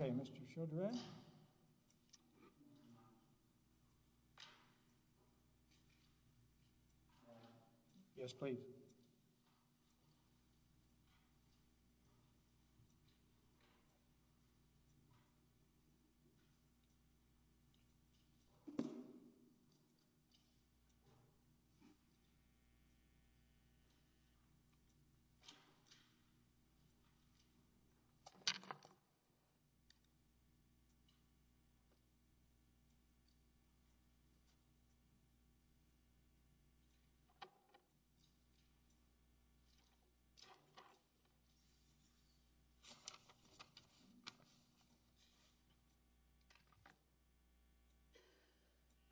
Okay, Mr. Chaudhry. Yes, please. Thank you. Okay.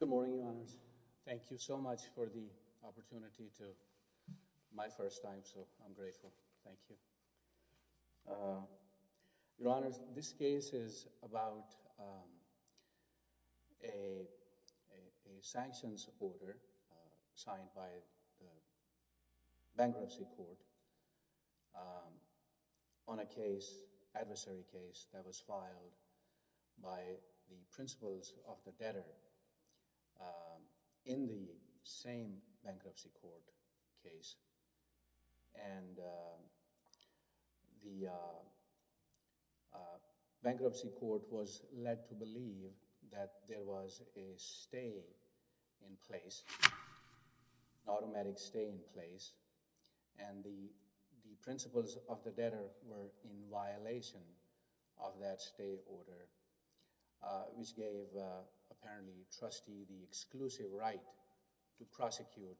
Good morning. Thank you so much for the opportunity to—my first time, so I'm grateful. Thank you. Your Honors, this case is about a sanctions order signed by the Bankruptcy Court on a case that was filed by the Principals of the Debtor in the same Bankruptcy Court case. And the Bankruptcy Court was led to believe that there was a stay in place, an automatic stay in place, and the Principals of the Debtor were in violation of that stay order, which gave, apparently, the trustee the exclusive right to prosecute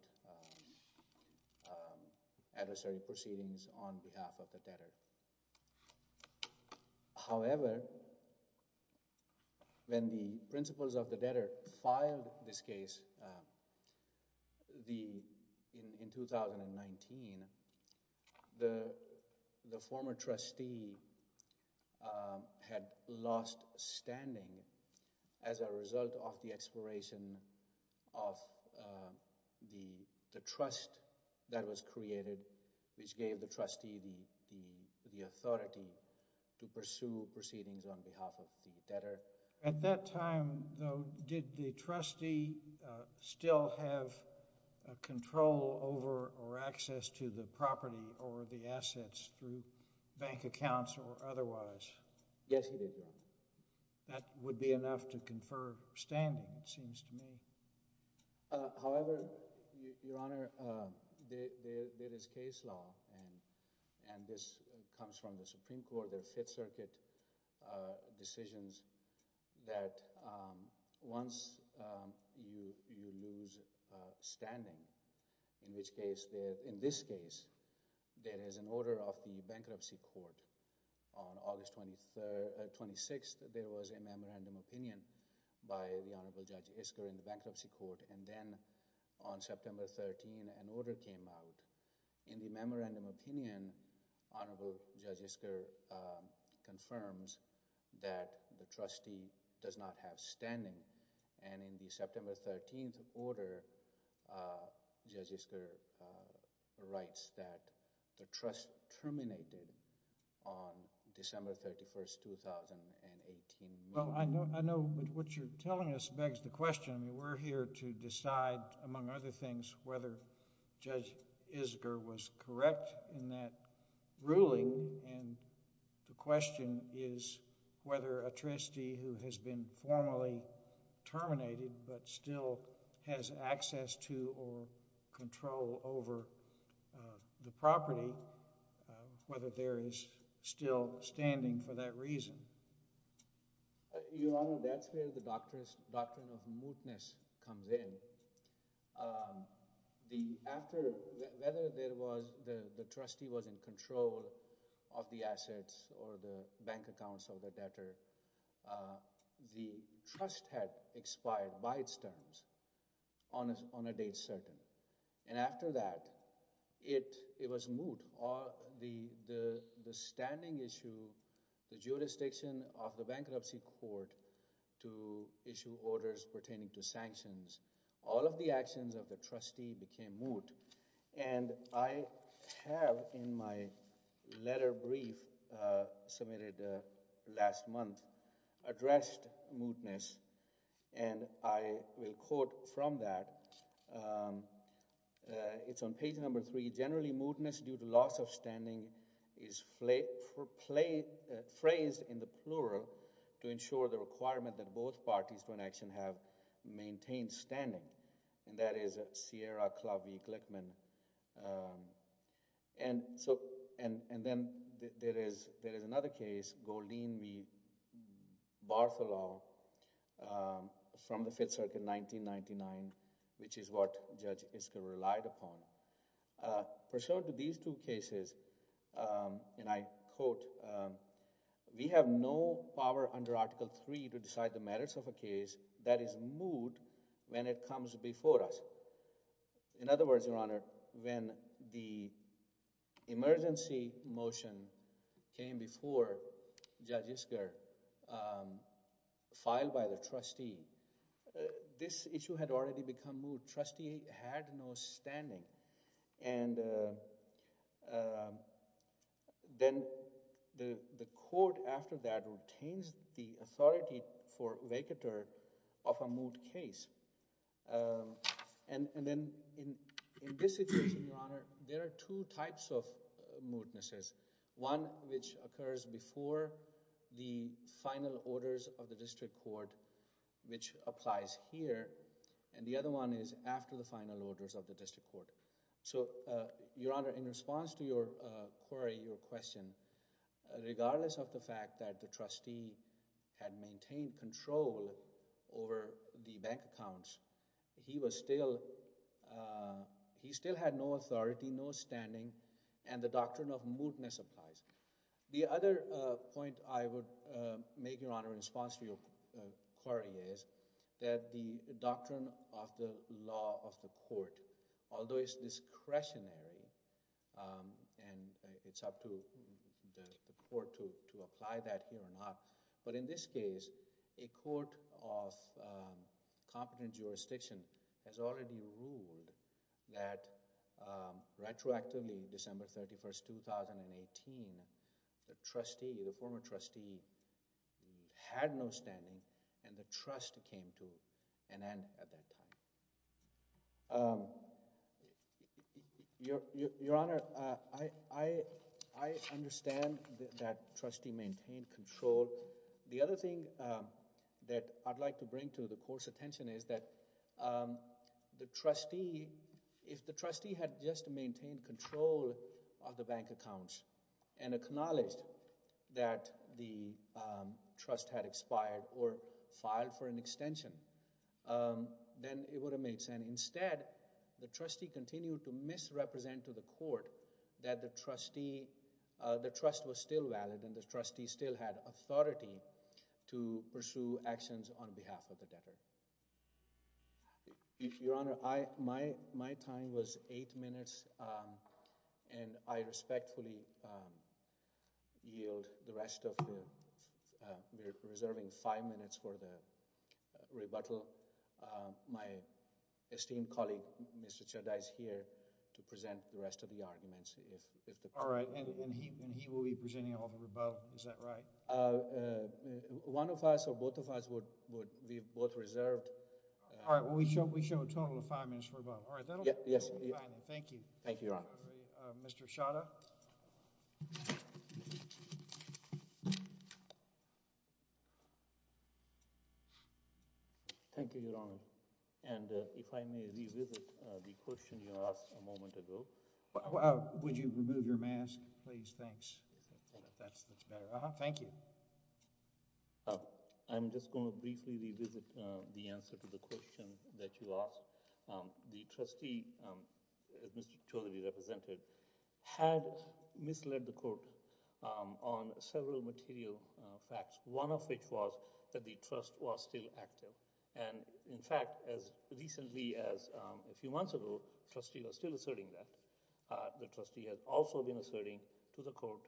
adversary proceedings on behalf of the debtor. However, when the Principals of the Debtor filed this case in 2019, the former trustee had lost standing as a result of the expiration of the trust that was created, which gave the trustee the authority to pursue proceedings on behalf of the debtor. At that time, though, did the trustee still have control over or access to the property or the assets through bank accounts or otherwise? Yes, he did, yes. That would be enough to confer standing, it seems to me. However, Your Honor, there is case law, and this comes from the Supreme Court, the Fifth Circuit decisions, that once you lose standing, in this case, there is an order of the Bankruptcy Court, and then on September 13th, an order came out. In the memorandum of opinion, Honorable Judge Isker confirms that the trustee does not have standing, and in the September 13th order, Judge Isker writes that the trust terminated on December 31st, 2018. Well, I know what you're telling us begs the question. We're here to decide, among other things, whether Judge Isker was correct in that ruling, and the question is whether a trustee who has been formally terminated but still has access to or control over the property, whether there is still standing for that reason. Your Honor, that's where the doctrine of mootness comes in. Whether the trustee was in control of the assets or the bank accounts or the debtor, the trust had expired by its terms on a date certain, and after that, it was moot. The standing issue, the jurisdiction of the Bankruptcy Court to issue orders pertaining to sanctions, all of the actions of the trustee became moot, and I have, in my letter brief submitted last month, addressed mootness, and I will quote from that. It's on page number three. Generally, mootness due to loss of standing is phrased in the plural to ensure the requirement that both parties to an action have maintained standing, and that is Sierra Club v. Glickman. Then there is another case, Goldeen v. Barthelot from the Fifth Circuit, 1999, which is what Judge Isker relied upon. For these two cases, and I quote, we have no power under Article III to decide the merits of a case that is moot when it comes before us. In other words, Your Honor, when the emergency motion came before Judge Isker, filed by the trustee, this issue had already become moot. Trustee had no standing, and then the court, after that, obtains the authority for vacatur of a moot case. And then in this situation, Your Honor, there are two types of mootnesses, one which occurs before the final orders of the district court, which applies here, and the other one is after the final orders of the district court. So, Your Honor, in response to your query, your question, regardless of the fact that the trustee had maintained control over the bank accounts, he still had no authority, no standing, and the doctrine of mootness applies. The other point I would make, Your Honor, in response to your query is that the doctrine of the law of the court, although it's discretionary, and it's up to the court to apply that here or not, but in this case, a court of competent jurisdiction has already ruled that retroactively, December 31st, 2018, the trustee, the former trustee, had no standing, and the trust came to an end at that time. Your Honor, I understand that trustee maintained control. The other thing that I'd like to bring to the court's attention is that the trustee, if the trustee had just maintained control of the bank accounts and acknowledged that the trust had expired or filed for an extension, then it would have made sense. Instead, the trustee continued to misrepresent to the court that the trust was still valid and the trustee still had authority to pursue actions on behalf of the debtor. Your Honor, my time was eight minutes, and I respectfully yield the rest of the... We're reserving five minutes for the rebuttal. My esteemed colleague, Mr. Chaddai, is here to present the rest of the arguments. All right, and he will be presenting all the rebuttal. Is that right? One of us or both of us would be both reserved. All right, well, we show a total of five minutes for rebuttal. All right, that'll be fine. Thank you. Thank you, Your Honor. Mr. Chaddai? Thank you, Your Honor. And if I may revisit the question you asked a moment ago... Would you remove your mask, please? Thanks. That's much better. Thank you. I'm just going to briefly revisit the answer to the question that you asked. The trustee, Mr. Chaudhary represented, had misled the court on several material facts. One of which was that the trust was still active. And, in fact, as recently as a few months ago, the trustee was still asserting that. The trustee has also been asserting to the court.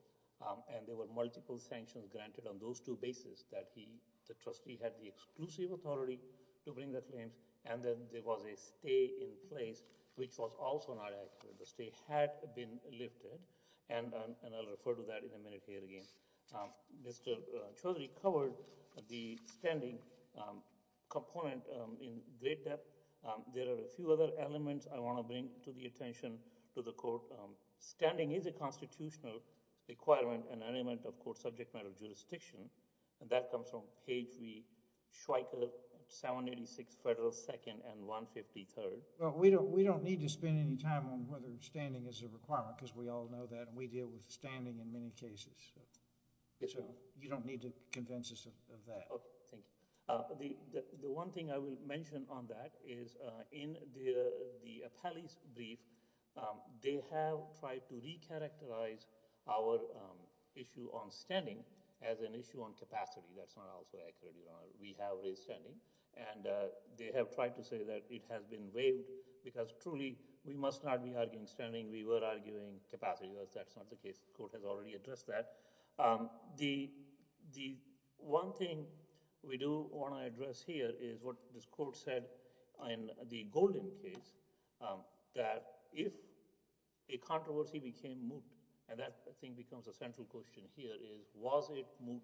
And there were multiple sanctions granted on those two bases that he... The trustee had the exclusive authority to bring that claim. And then there was a stay in place, which was also not active. The stay had been lifted. And I'll refer to that in a minute here again. Mr. Chaudhary covered the standing component in great depth. There are a few other elements I want to bring to the attention to the court. Standing is a constitutional requirement and element of court subject matter jurisdiction. And that comes from page 3, Schweiker 786 Federal 2nd and 153rd. Well, we don't need to spend any time on whether standing is a requirement because we all know that. And we deal with standing in many cases. Yes, sir. You don't need to convince us of that. Okay. Thank you. The one thing I will mention on that is in the Appellee's brief, they have tried to re-characterize our issue on standing as an issue on capacity. That's not also accurate, Your Honor. We have re-standing. And they have tried to say that it has been waived because, truly, we must not be arguing standing. We were arguing capacity, but that's not the case. The court has already addressed that. The one thing we do want to address here is what this court said in the Golden case, that if a controversy became moot, and that, I think, becomes a central question here, is was it moot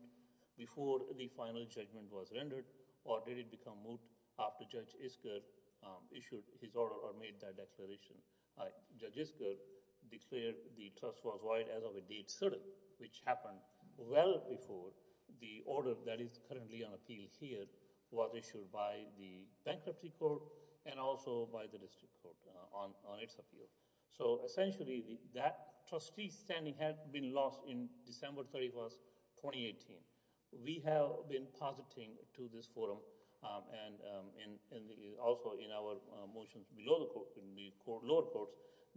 before the final judgment was rendered, or did it become moot after Judge Isker issued his order or made that declaration? Judge Isker declared the trust was void as of a date certain, which happened well before the order that is currently on appeal here was issued by the Bankruptcy Court and also by the District Court on its appeal. So, essentially, that trustee standing had been lost on December 31, 2018. We have been positing to this forum and also in our motions below the lower courts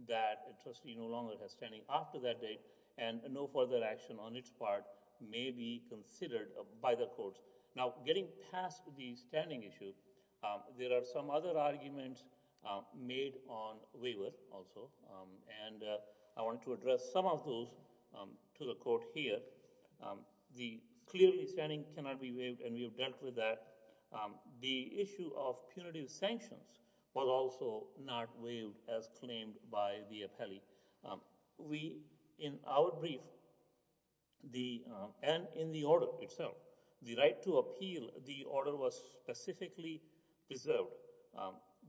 that a trustee no longer has standing after that date, and no further action on its part may be considered by the courts. Now, getting past the standing issue, there are some other arguments made on waiver also, and I want to address some of those to the court here. Clearly, standing cannot be waived, and we have dealt with that. The issue of punitive sanctions was also not waived as claimed by the appellee. We, in our brief, and in the order itself, the right to appeal the order was specifically preserved.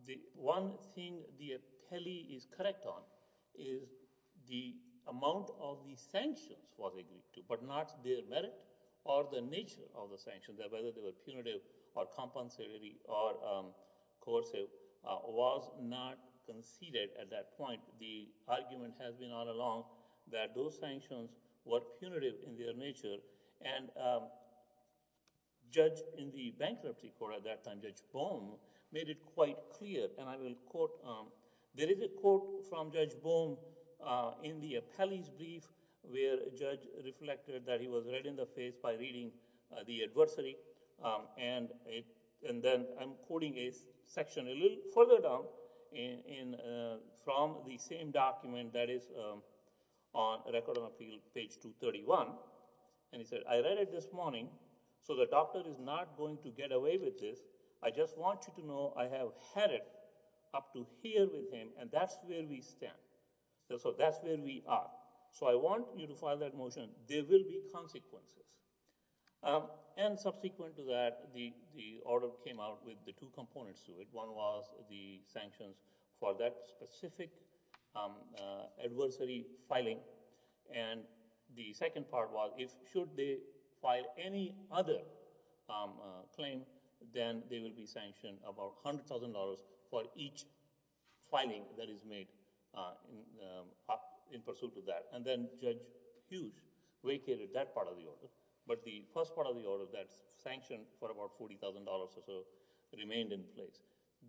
The one thing the appellee is correct on is the amount of the sanctions was agreed to, but not their merit or the nature of the sanctions, whether they were punitive or compensatory or coercive, was not conceded at that point. The argument has been all along that those sanctions were punitive in their nature, and Judge in the Bankruptcy Court at that time, Judge Bohm, made it quite clear, and I will quote. There is a quote from Judge Bohm in the appellee's brief, where a judge reflected that he was right in the face by reading the adversary, and then I'm quoting a section a little further down from the same document that is on Record of Appeal, page 231. He said, I read it this morning, so the doctor is not going to get away with this. I just want you to know I have had it up to here with him, and that's where we stand. So that's where we are. So I want you to file that motion. There will be consequences. And subsequent to that, the order came out with the two components to it. One was the sanctions for that specific adversary filing, and the second part was if should they file any other claim, then they will be sanctioned about $100,000 for each filing that is made in pursuit of that. And then Judge Hughes vacated that part of the order, but the first part of the order that's sanctioned for about $40,000 or so remained in place.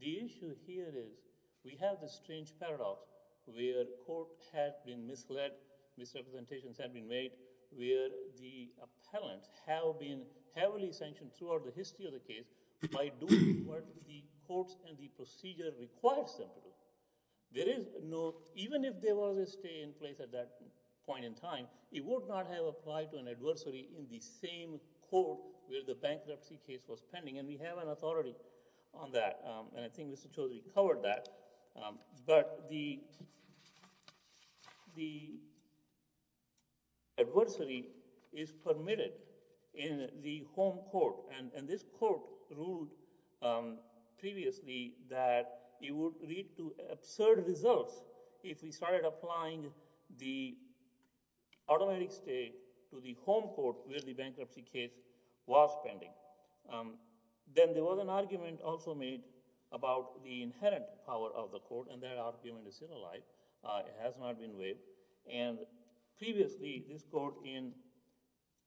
The issue here is we have this strange paradox where court has been misled, misrepresentations have been made, where the appellants have been heavily sanctioned throughout the history of the case by doing what the courts and the procedure requires them to do. There is no—even if there was a stay in place at that point in time, it would not have applied to an adversary in the same court where the bankruptcy case was pending, and we have an authority on that, and I think Mr. Chaudhary covered that. But the adversary is permitted in the home court, and this court ruled previously that it would lead to absurd results if we started applying the automatic stay to the home court where the bankruptcy case was pending. Then there was an argument also made about the inherent power of the court, and that argument is still alive. It has not been waived. And previously, this court in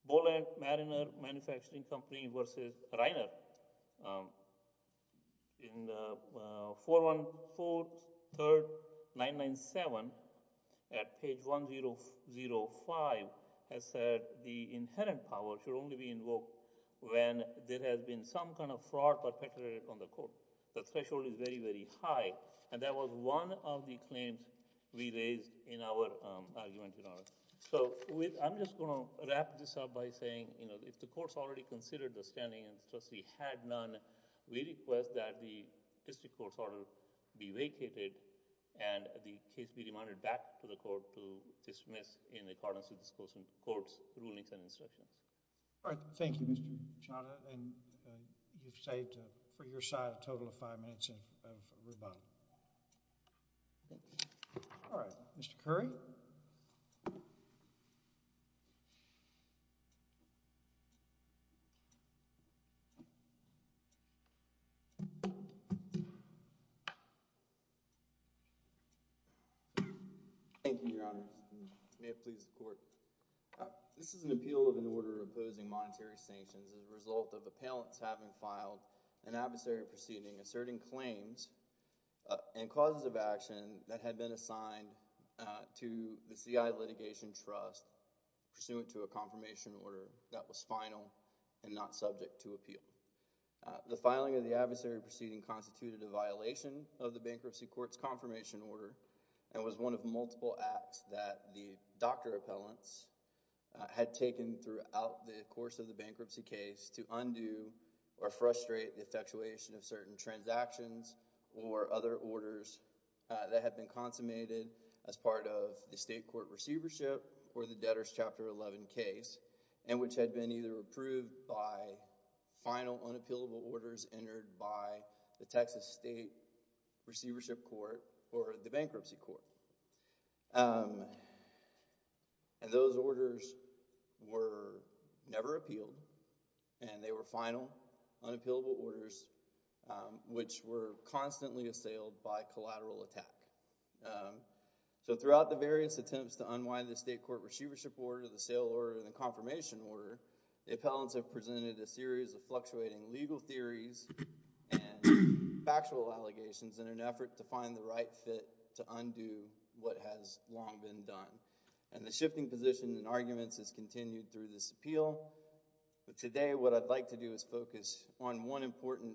Bollack-Mariner Manufacturing Company v. Reiner in 4143-997 at page 1005 has said the inherent power should only be invoked when there has been some kind of fraud perpetrated on the court. The threshold is very, very high, and that was one of the claims we raised in our argument. So I'm just going to wrap this up by saying if the courts already considered the standing and the trustee had none, we request that the district court's order be vacated, and the case be remanded back to the court to dismiss in accordance with the court's rulings and instructions. All right. Thank you, Mr. Machado, and you've saved for your side a total of five minutes of rebuttal. All right. Mr. Curry? Thank you, Your Honor. May it please the court. This is an appeal of an order opposing monetary sanctions as a result of appellants having filed an adversary proceeding asserting claims and causes of action that had been assigned to the CI Litigation Trust pursuant to a confirmation order that was final and not subject to appeal. The filing of the adversary proceeding constituted a violation of the bankruptcy court's confirmation order and was one of multiple acts that the doctor appellants had taken throughout the course of the bankruptcy case to undo or frustrate the effectuation of certain transactions or other orders that had been consummated as part of the state court receivership for the debtors' Chapter 11 case and which had been either approved by final unappealable orders entered by the Texas State Receivership Court or the bankruptcy court. And those orders were never appealed, and they were final unappealable orders which were constantly assailed by collateral attack. So throughout the various attempts to unwind the state court receivership order, the sale order, and the confirmation order, the appellants have presented a series of fluctuating legal theories and factual allegations in an effort to find the right fit to undo what has long been done. And the shifting position in arguments has continued through this appeal, but today what I'd like to do is focus on one important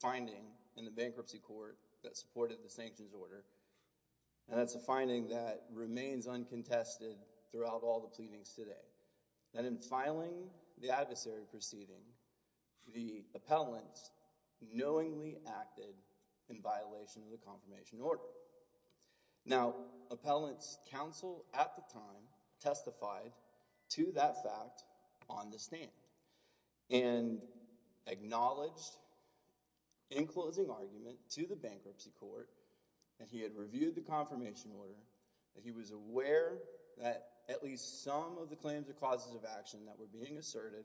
finding in the bankruptcy court that supported the sanctions order. And that's a finding that remains uncontested throughout all the pleadings today. And in filing the adversary proceeding, the appellant knowingly acted in violation of the confirmation order. Now, appellant's counsel at the time testified to that fact on the stand and acknowledged in closing argument to the bankruptcy court that he had reviewed the confirmation order, that he was aware that at least some of the claims of causes of action that were being asserted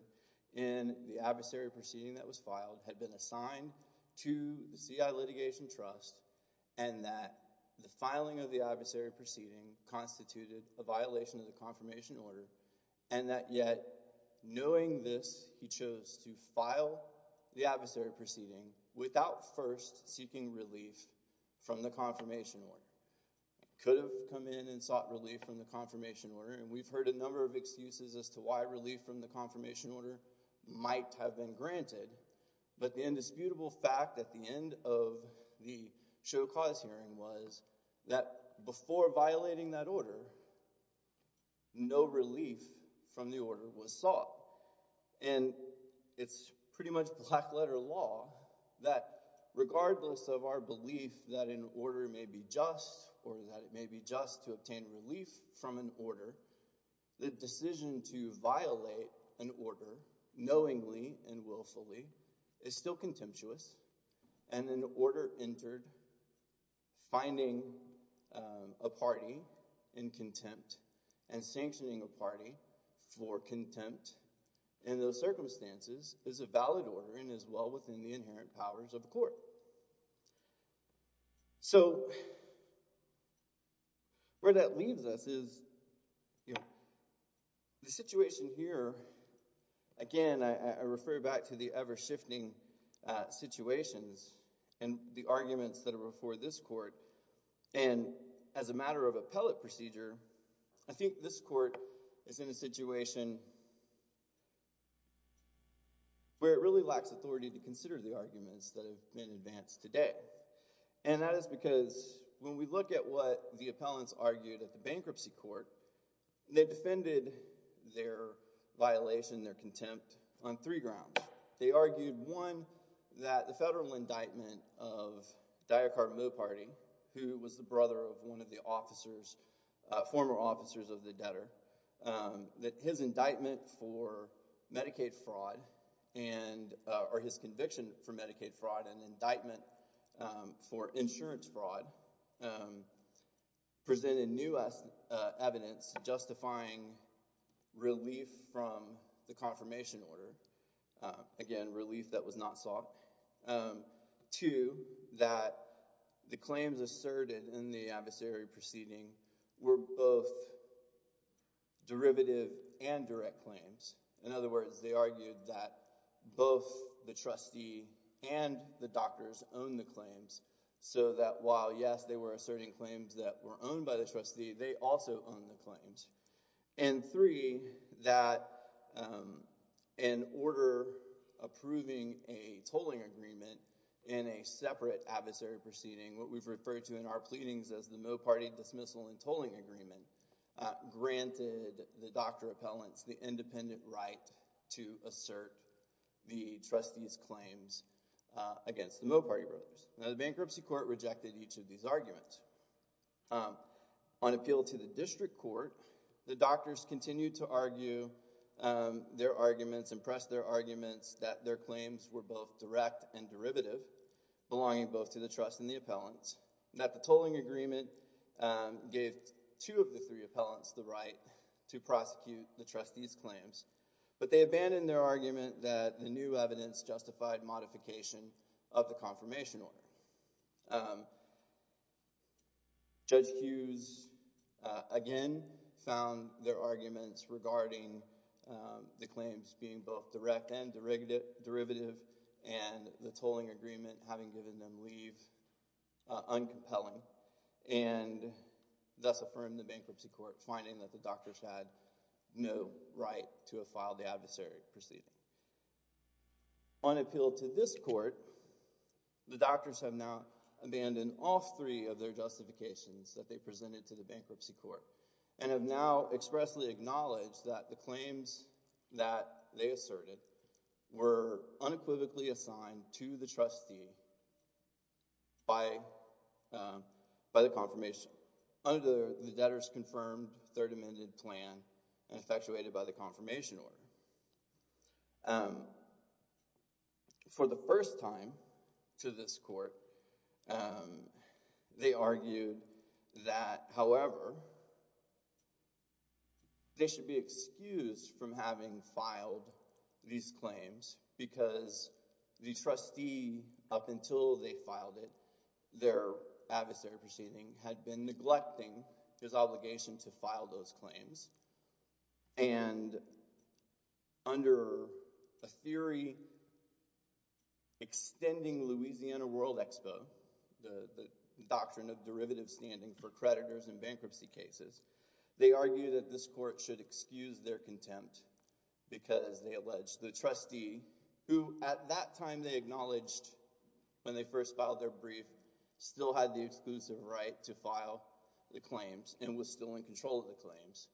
in the adversary proceeding that was filed had been assigned to the CI Litigation Trust, and that the filing of the adversary proceeding constituted a violation of the confirmation order, and that yet, knowing this, he chose to file the adversary proceeding without first seeking relief from the confirmation order. He could have come in and sought relief from the confirmation order, and we've heard a number of excuses as to why relief from the confirmation order might have been granted, but the indisputable fact at the end of the show cause hearing was that before violating that order, no relief from the order was sought. And it's pretty much black letter law that regardless of our belief that an order may be just or that it may be just to obtain relief from an order, the decision to violate an order knowingly and willfully is still contemptuous, and an order entered finding a party in contempt and sanctioning a party for contempt in those circumstances is a valid order and is well within the inherent powers of the court. So where that leaves us is the situation here, again, I refer back to the ever-shifting situations and the arguments that are before this court, and as a matter of appellate procedure, I think this court is in a situation where it really lacks authority to consider the arguments that have been advanced today. And that is because when we look at what the appellants argued at the bankruptcy court, they defended their violation, their contempt, on three grounds. They argued, one, that the federal indictment of Diakar Moparty, who was the brother of one of the officers, former officers of the debtor, that his indictment for Medicaid fraud, or his conviction for Medicaid fraud, and indictment for insurance fraud, presented new evidence justifying relief from the confirmation order, again, relief that was not sought. Two, that the claims asserted in the adversary proceeding were both derivative and direct claims. In other words, they argued that both the trustee and the doctors owned the claims, so that while, yes, they were asserting claims that were owned by the trustee, they also owned the claims. And three, that an order approving a tolling agreement in a separate adversary proceeding, what we've referred to in our pleadings as the Moparty dismissal and tolling agreement, granted the doctor appellants the independent right to assert the trustee's claims against the Moparty brothers. Now, the bankruptcy court rejected each of these arguments. On appeal to the district court, the doctors continued to argue their arguments, and press their arguments that their claims were both direct and derivative, belonging both to the trust and the appellants, and that the tolling agreement gave two of the three appellants the right to prosecute the trustee's claims. But they abandoned their argument that the new evidence justified modification of the confirmation order. Judge Hughes, again, found their arguments regarding the claims being both direct and derivative, and the tolling agreement having given them leave uncompelling, and thus affirmed the bankruptcy court finding that the doctors had no right to have filed the adversary proceeding. On appeal to this court, the doctors have now abandoned all three of their justifications that they presented to the bankruptcy court, and have now expressly acknowledged that the claims that they asserted were unequivocally assigned to the trustee by the confirmation, under the debtor's confirmed third amended plan, and effectuated by the confirmation order. For the first time to this court, they argued that, however, they should be excused from having filed these claims, because the trustee, up until they filed it, their adversary proceeding, had been neglecting his obligation to file those claims. And under a theory extending Louisiana World Expo, the doctrine of derivative standing for creditors in bankruptcy cases, they argued that this court should excuse their contempt, because they alleged the trustee, who at that time they acknowledged when they first filed their brief, still had the exclusive right to file the claims, and was still in control of the claims,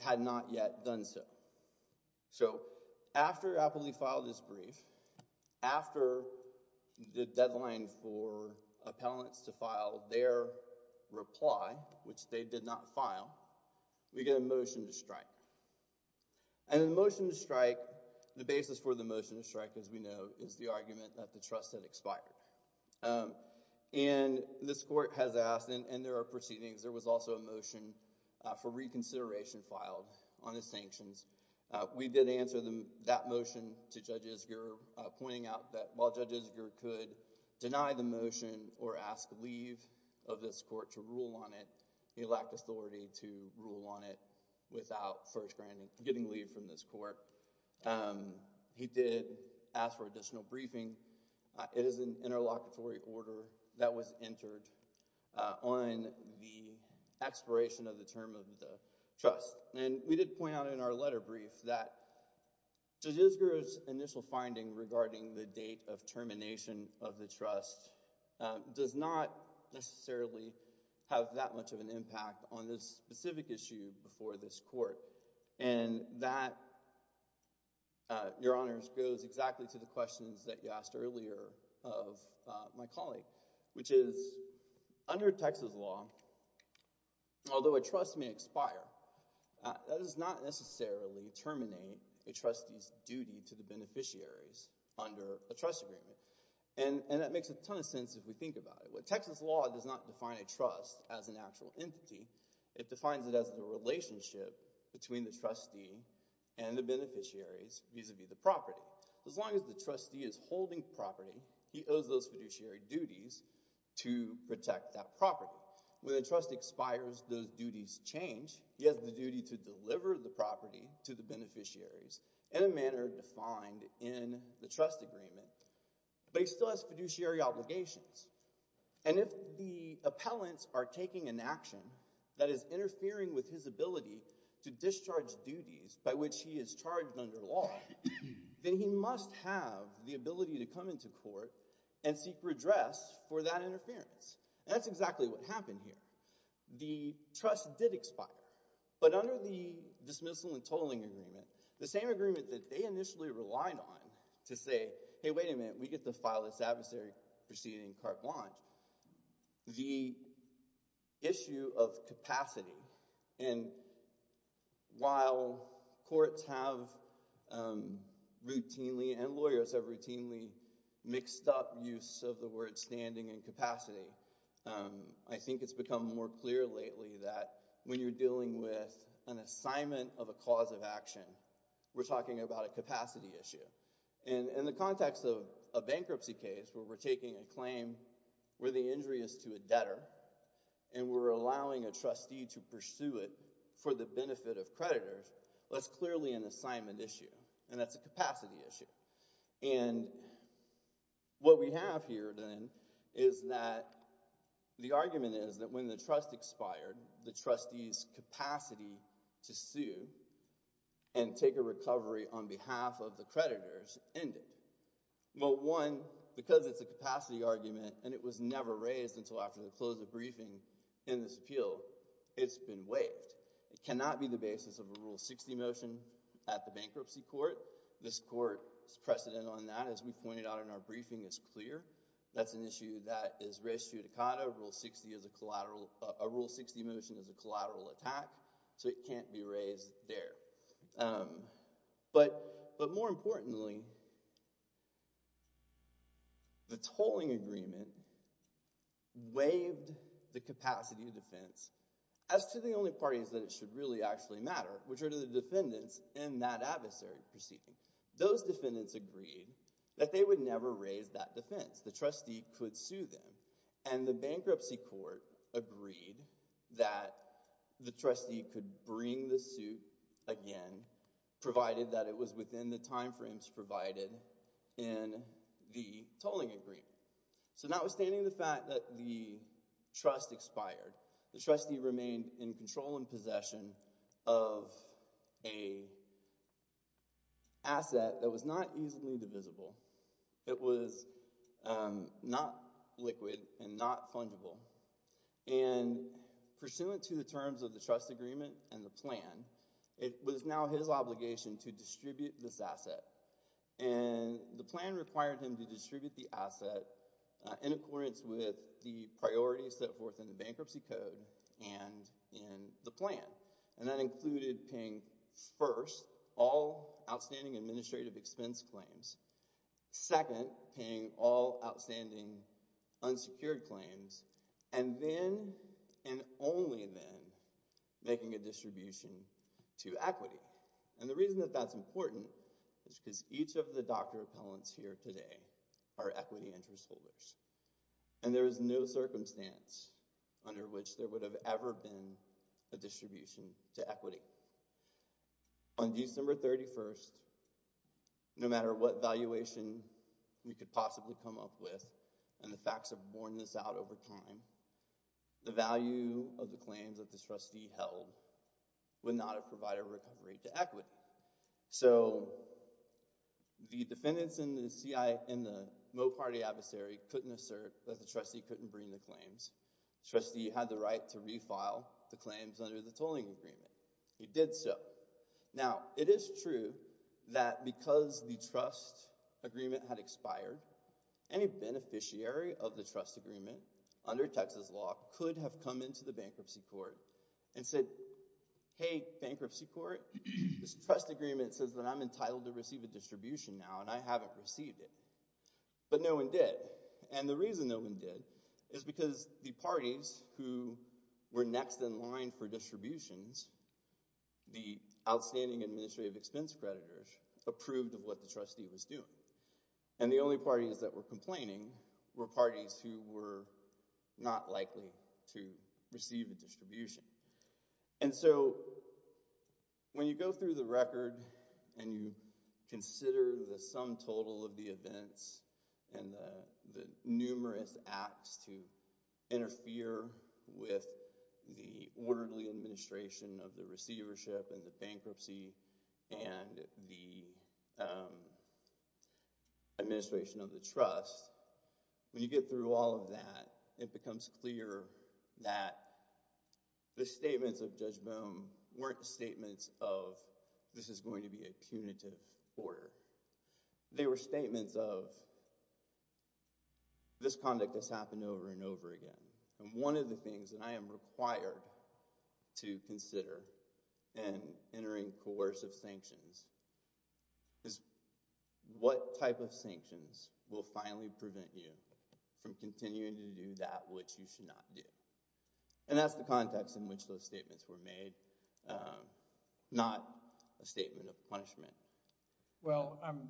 had not yet done so. So, after Appley filed this brief, after the deadline for appellants to file their reply, which they did not file, we get a motion to strike. And the motion to strike, the basis for the motion to strike, as we know, is the argument that the trust had expired. And this court has asked, and there are proceedings, there was also a motion for reconsideration filed on his sanctions. We did answer that motion to Judge Isger, pointing out that while Judge Isger could deny the motion, or ask leave of this court to rule on it, he lacked authority to rule on it without first getting leave from this court. He did ask for additional briefing. It is an interlocutory order that was entered on the expiration of the term of the trust. And we did point out in our letter brief that Judge Isger's initial finding regarding the date of termination of the trust does not necessarily have that much of an impact on this specific issue before this court. And that, Your Honors, goes exactly to the questions that you asked earlier of my colleague, which is, under Texas law, although a trust may expire, that does not necessarily terminate a trustee's duty to the beneficiaries under a trust agreement. And that makes a ton of sense if we think about it. But Texas law does not define a trust as an actual entity. It defines it as the relationship between the trustee and the beneficiaries vis-a-vis the property. As long as the trustee is holding property, he owes those fiduciary duties to protect that property. When a trust expires, those duties change. He has the duty to deliver the property to the beneficiaries in a manner defined in the trust agreement. But he still has fiduciary obligations. And if the appellants are taking an action that is interfering with his ability to discharge duties by which he is charged under the law, then he must have the ability to come into court and seek redress for that interference. And that's exactly what happened here. The trust did expire. But under the dismissal and totaling agreement, the same agreement that they initially relied on to say, hey, wait a minute, we get to file this adversary proceeding carte blanche, the issue of capacity. And while courts have routinely and lawyers have routinely mixed up use of the word standing and capacity, I think it's become more clear lately that when you're dealing with an assignment of a cause of action, we're talking about a capacity issue. And in the context of a bankruptcy case where we're taking a claim where the injury is to a debtor and we're allowing a trustee to pursue it for the benefit of creditors, that's clearly an assignment issue. And that's a capacity issue. And what we have here, then, is that the argument is that when the trust expired, the trustee's capacity to sue and take a recovery on behalf of the creditors ended. Well, one, because it's a capacity argument and it was never raised until after the close of briefing in this appeal, it's been waived. It cannot be the basis of a Rule 60 motion at the bankruptcy court. This court's precedent on that, as we pointed out in our briefing, is clear. That's an issue that is res judicata. A Rule 60 motion is a collateral attack, so it can't be raised there. But more importantly, the tolling agreement waived the capacity of defense as to the only parties that it should really actually matter, which are the defendants in that adversary proceeding. Those defendants agreed that they would never raise that defense. The trustee could sue them. And the bankruptcy court agreed that the trustee could bring the suit again, provided that it was within the time frames provided in the tolling agreement. So notwithstanding the fact that the trust expired, the trustee remained in control and possession of an asset that was not easily divisible. It was not liquid and not fungible. And pursuant to the terms of the trust agreement and the plan, it was now his obligation to distribute this asset. And the plan required him to distribute the asset in accordance with the priorities set forth in the bankruptcy code and in the plan. And that included paying, first, all outstanding administrative expense claims, second, paying all outstanding unsecured claims, and then and only then making a distribution to equity. And the reason that that's important is because each of the DACA appellants here today are equity interest holders. And there is no circumstance under which there would have ever been a distribution to equity. On December 31st, no matter what valuation we could possibly come up with, and the facts have worn this out over time, the value of the claims that the trustee held would not have provided a recovery to equity. So the defendants in the Moe Party adversary couldn't assert that the trustee couldn't bring the claims. The trustee had the right to refile the claims under the tolling agreement. He did so. Now, it is true that because the trust agreement had expired, any beneficiary of the trust agreement under Texas law could have come into the bankruptcy court and said, hey, bankruptcy court, this trust agreement says that I'm entitled to receive a distribution now, and I haven't received it. But no one did. And the reason no one did is because the parties who were next in line for distributions, the outstanding administrative expense creditors, approved of what the trustee was doing. And the only parties that were complaining were parties who were not likely to receive a distribution. And so when you go through the record and you consider the sum total of the events and the numerous acts to interfere with the orderly administration of the receivership and the bankruptcy and the administration of the trust, when you get through all of that, it becomes clear that the statements of Judge Boone weren't statements of this is going to be a punitive order. They were statements of this conduct has happened over and over again. And one of the things that I am required to consider in entering coercive sanctions is what type of sanctions will finally prevent you from continuing to do that which you should not do. And that's the context in which those statements were made, not a statement of punishment. Well, I'm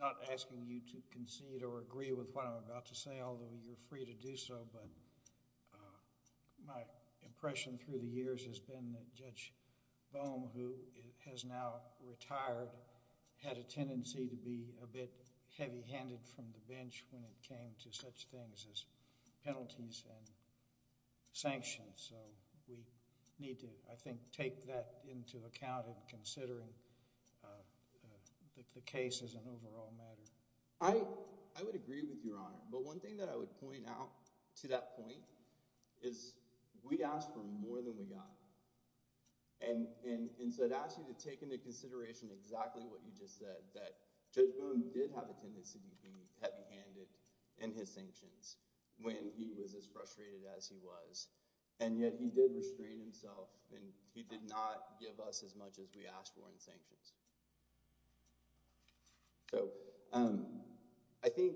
not asking you to concede or agree with what I'm about to say, although you're free to do so. But my impression through the years has been that Judge Boone, who has now retired, had a tendency to be a bit heavy-handed from the bench when it came to such things as penalties and sanctions. And so we need to, I think, take that into account in considering the case as an overall matter. I would agree with Your Honor. But one thing that I would point out to that point is we asked for more than we got. And so I'd ask you to take into consideration exactly what you just said, that Judge Boone did have a tendency to be heavy-handed in his sanctions when he was as frustrated as he was. And yet he did restrain himself, and he did not give us as much as we asked for in sanctions. So I think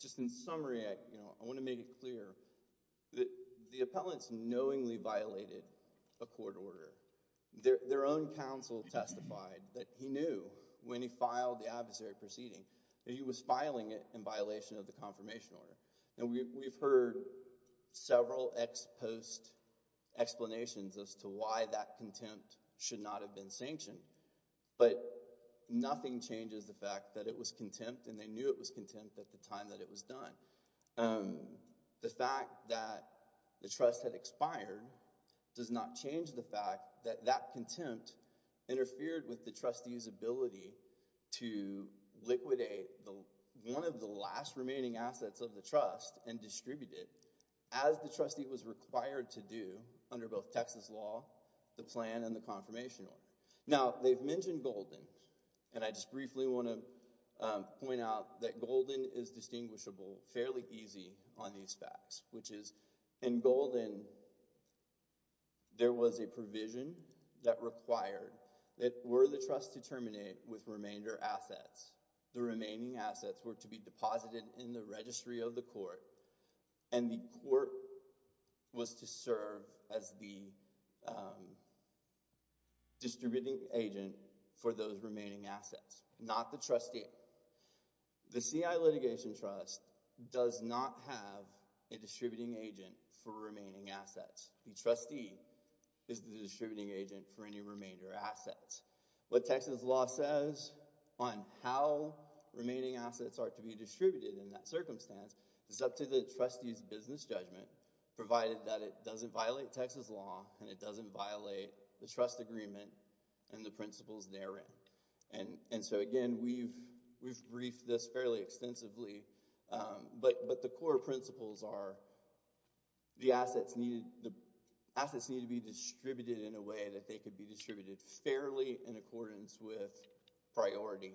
just in summary, I want to make it clear that the appellants knowingly violated a court order. Their own counsel testified that he knew when he filed the adversary proceeding that he was filing it in violation of the confirmation order. And we've heard several ex post explanations as to why that contempt should not have been sanctioned. But nothing changes the fact that it was contempt, and they knew it was contempt at the time that it was done. The fact that the trust had expired does not change the fact that that contempt interfered with the trustee's ability to liquidate one of the last remaining assets of the trust and distribute it, as the trustee was required to do under both Texas law, the plan, and the confirmation order. Now, they've mentioned Golden, and I just briefly want to point out that Golden is distinguishable fairly easy on these facts, which is in Golden, there was a provision that required that were the trust to terminate with remainder assets, the remaining assets were to be deposited in the registry of the court, and the court was to serve as the distributing agent for those remaining assets, not the trustee. The CI Litigation Trust does not have a distributing agent for remaining assets. The trustee is the distributing agent for any remainder assets. What Texas law says on how remaining assets are to be distributed in that circumstance is up to the trustee's business judgment, provided that it doesn't violate Texas law and it doesn't violate the trust agreement and the principles therein. Again, we've briefed this fairly extensively, but the core principles are the assets need to be distributed in a way that they could be distributed fairly in accordance with priority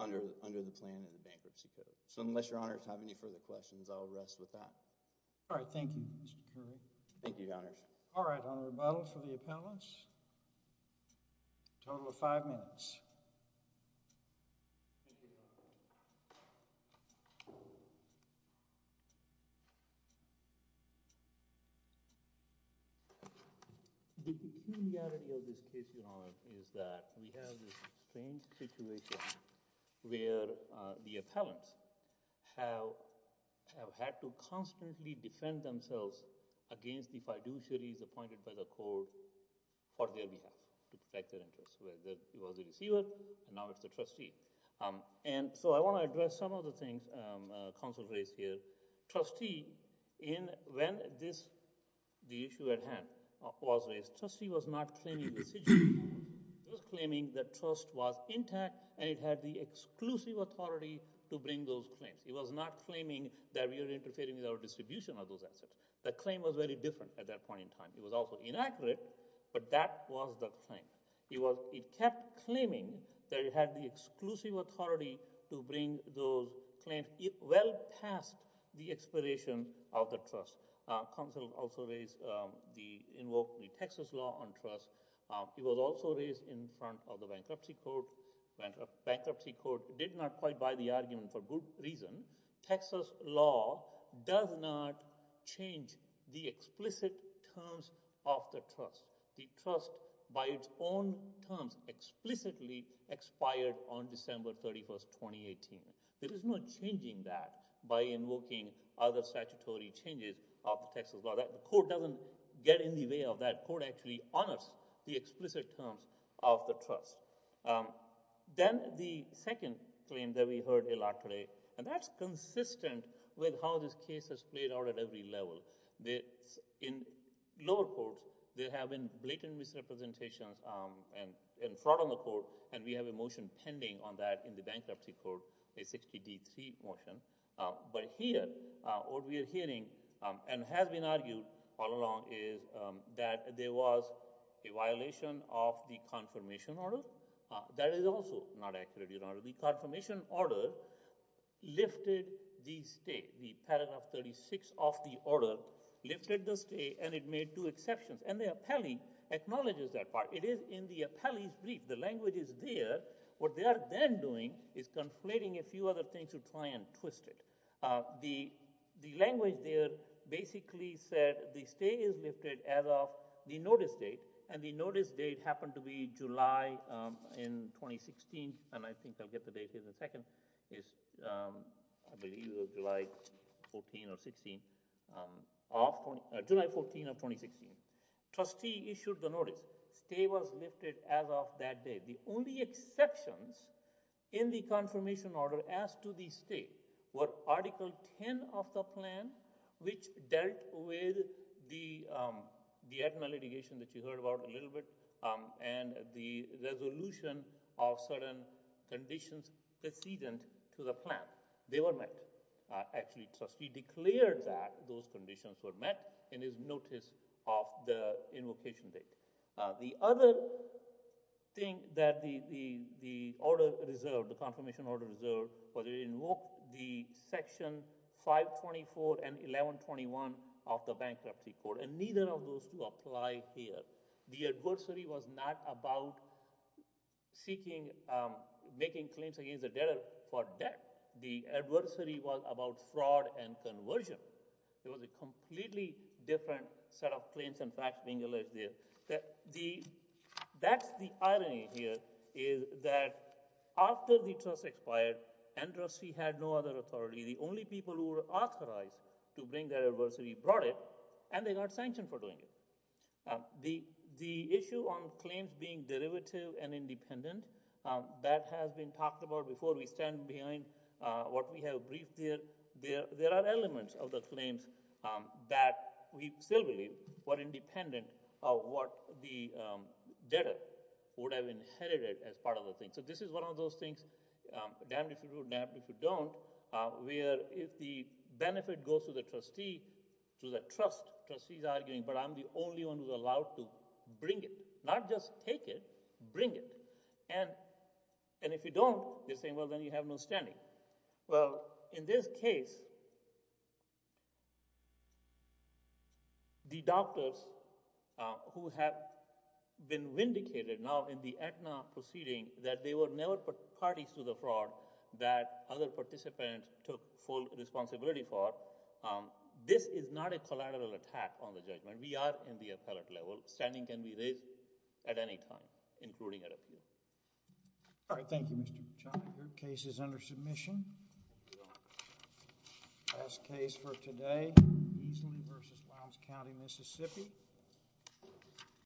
under the plan and the bankruptcy period. Unless your honors have any further questions, I'll rest with that. All right. Thank you. Thank you, your honors. All right, on rebuttal for the appellants, a total of five minutes. Thank you, your honor. The peculiarity of this case, your honor, is that we have this strange situation where the appellants have had to constantly defend themselves against the fiduciaries appointed by the court for their behalf, to protect their interests, whether it was the receiver, and now it's the trustee. And so I want to address some of the things counsel raised here. Trustee, when the issue at hand was raised, the trustee was not claiming the fiduciary. He was claiming that trust was intact and it had the exclusive authority to bring those claims. He was not claiming that we are interfering with our distribution of those assets. That claim was very different at that point in time. It was also inaccurate, but that was the thing. It kept claiming that it had the exclusive authority to bring those claims well past the expiration of the trust. Counsel also invoked the Texas law on trust. It was also raised in front of the bankruptcy court. Bankruptcy court did not quite buy the argument for good reason. The Texas law does not change the explicit terms of the trust. The trust, by its own terms, explicitly expired on December 31st, 2018. There is no changing that by invoking other statutory changes of the Texas law. The court doesn't get in the way of that. The court actually honors the explicit terms of the trust. Then the second claim that we heard a lot today, and that's consistent with how this case has played out at every level. In lower courts, there have been blatant misrepresentations and fraud on the court, and we have a motion pending on that in the bankruptcy court, a 60D3 motion. But here, what we are hearing and has been argued all along is that there was a violation of the confirmation order. That is also not accurate. The confirmation order lifted the stay. The paragraph 36 of the order lifted the stay, and it made two exceptions, and the appellee acknowledges that part. It is in the appellee's brief. The language is there. What they are then doing is conflating a few other things to try and twist it. The language there basically said the stay is lifted as of the notice date, and the notice date happened to be July in 2016, and I think I'll get the date here in a second. I believe it was July 14 or 16, July 14 of 2016. Trustee issued the notice. Stay was lifted as of that day. The only exceptions in the confirmation order as to the stay were Article 10 of the plan, which dealt with the admin litigation that you heard about a little bit, and the resolution of certain conditions precedent to the plan. They were met. Actually, Trustee declared that those conditions were met in his notice of the invocation date. The other thing that the order reserved, the confirmation order reserved, was to invoke the Section 524 and 1121 of the Bankruptcy Code, and neither of those two apply here. The adversary was not about seeking, making claims against the debtor for debt. The adversary was about fraud and conversion. There was a completely different set of claims and facts being alleged there. That's the irony here, is that after the trust expired, and Trustee had no other authority, the only people who were authorized to bring the adversary brought it, and they got sanctioned for doing it. The issue on claims being derivative and independent, that has been talked about before. We stand behind what we have briefed here. There are elements of the claims that we still believe were independent of what the debtor would have inherited as part of the thing. So this is one of those things, damned if you would, damned if you don't, where if the benefit goes to the trustee, the trustee's arguing, but I'm the only one who's allowed to bring it. Not just take it, bring it. And if you don't, they're saying, well, then you have no standing. Well, in this case, the doctors who have been vindicated now in the ACNA proceeding, that they were never parties to the fraud that other participants took full responsibility for, this is not a collateral attack on the judgment. We are in the appellate level. Standing can be raised at any time, including an appeal. All right, thank you, Mr. Buchanan. Your case is under submission. Last case for today, Easley v. Lowndes County, Mississippi.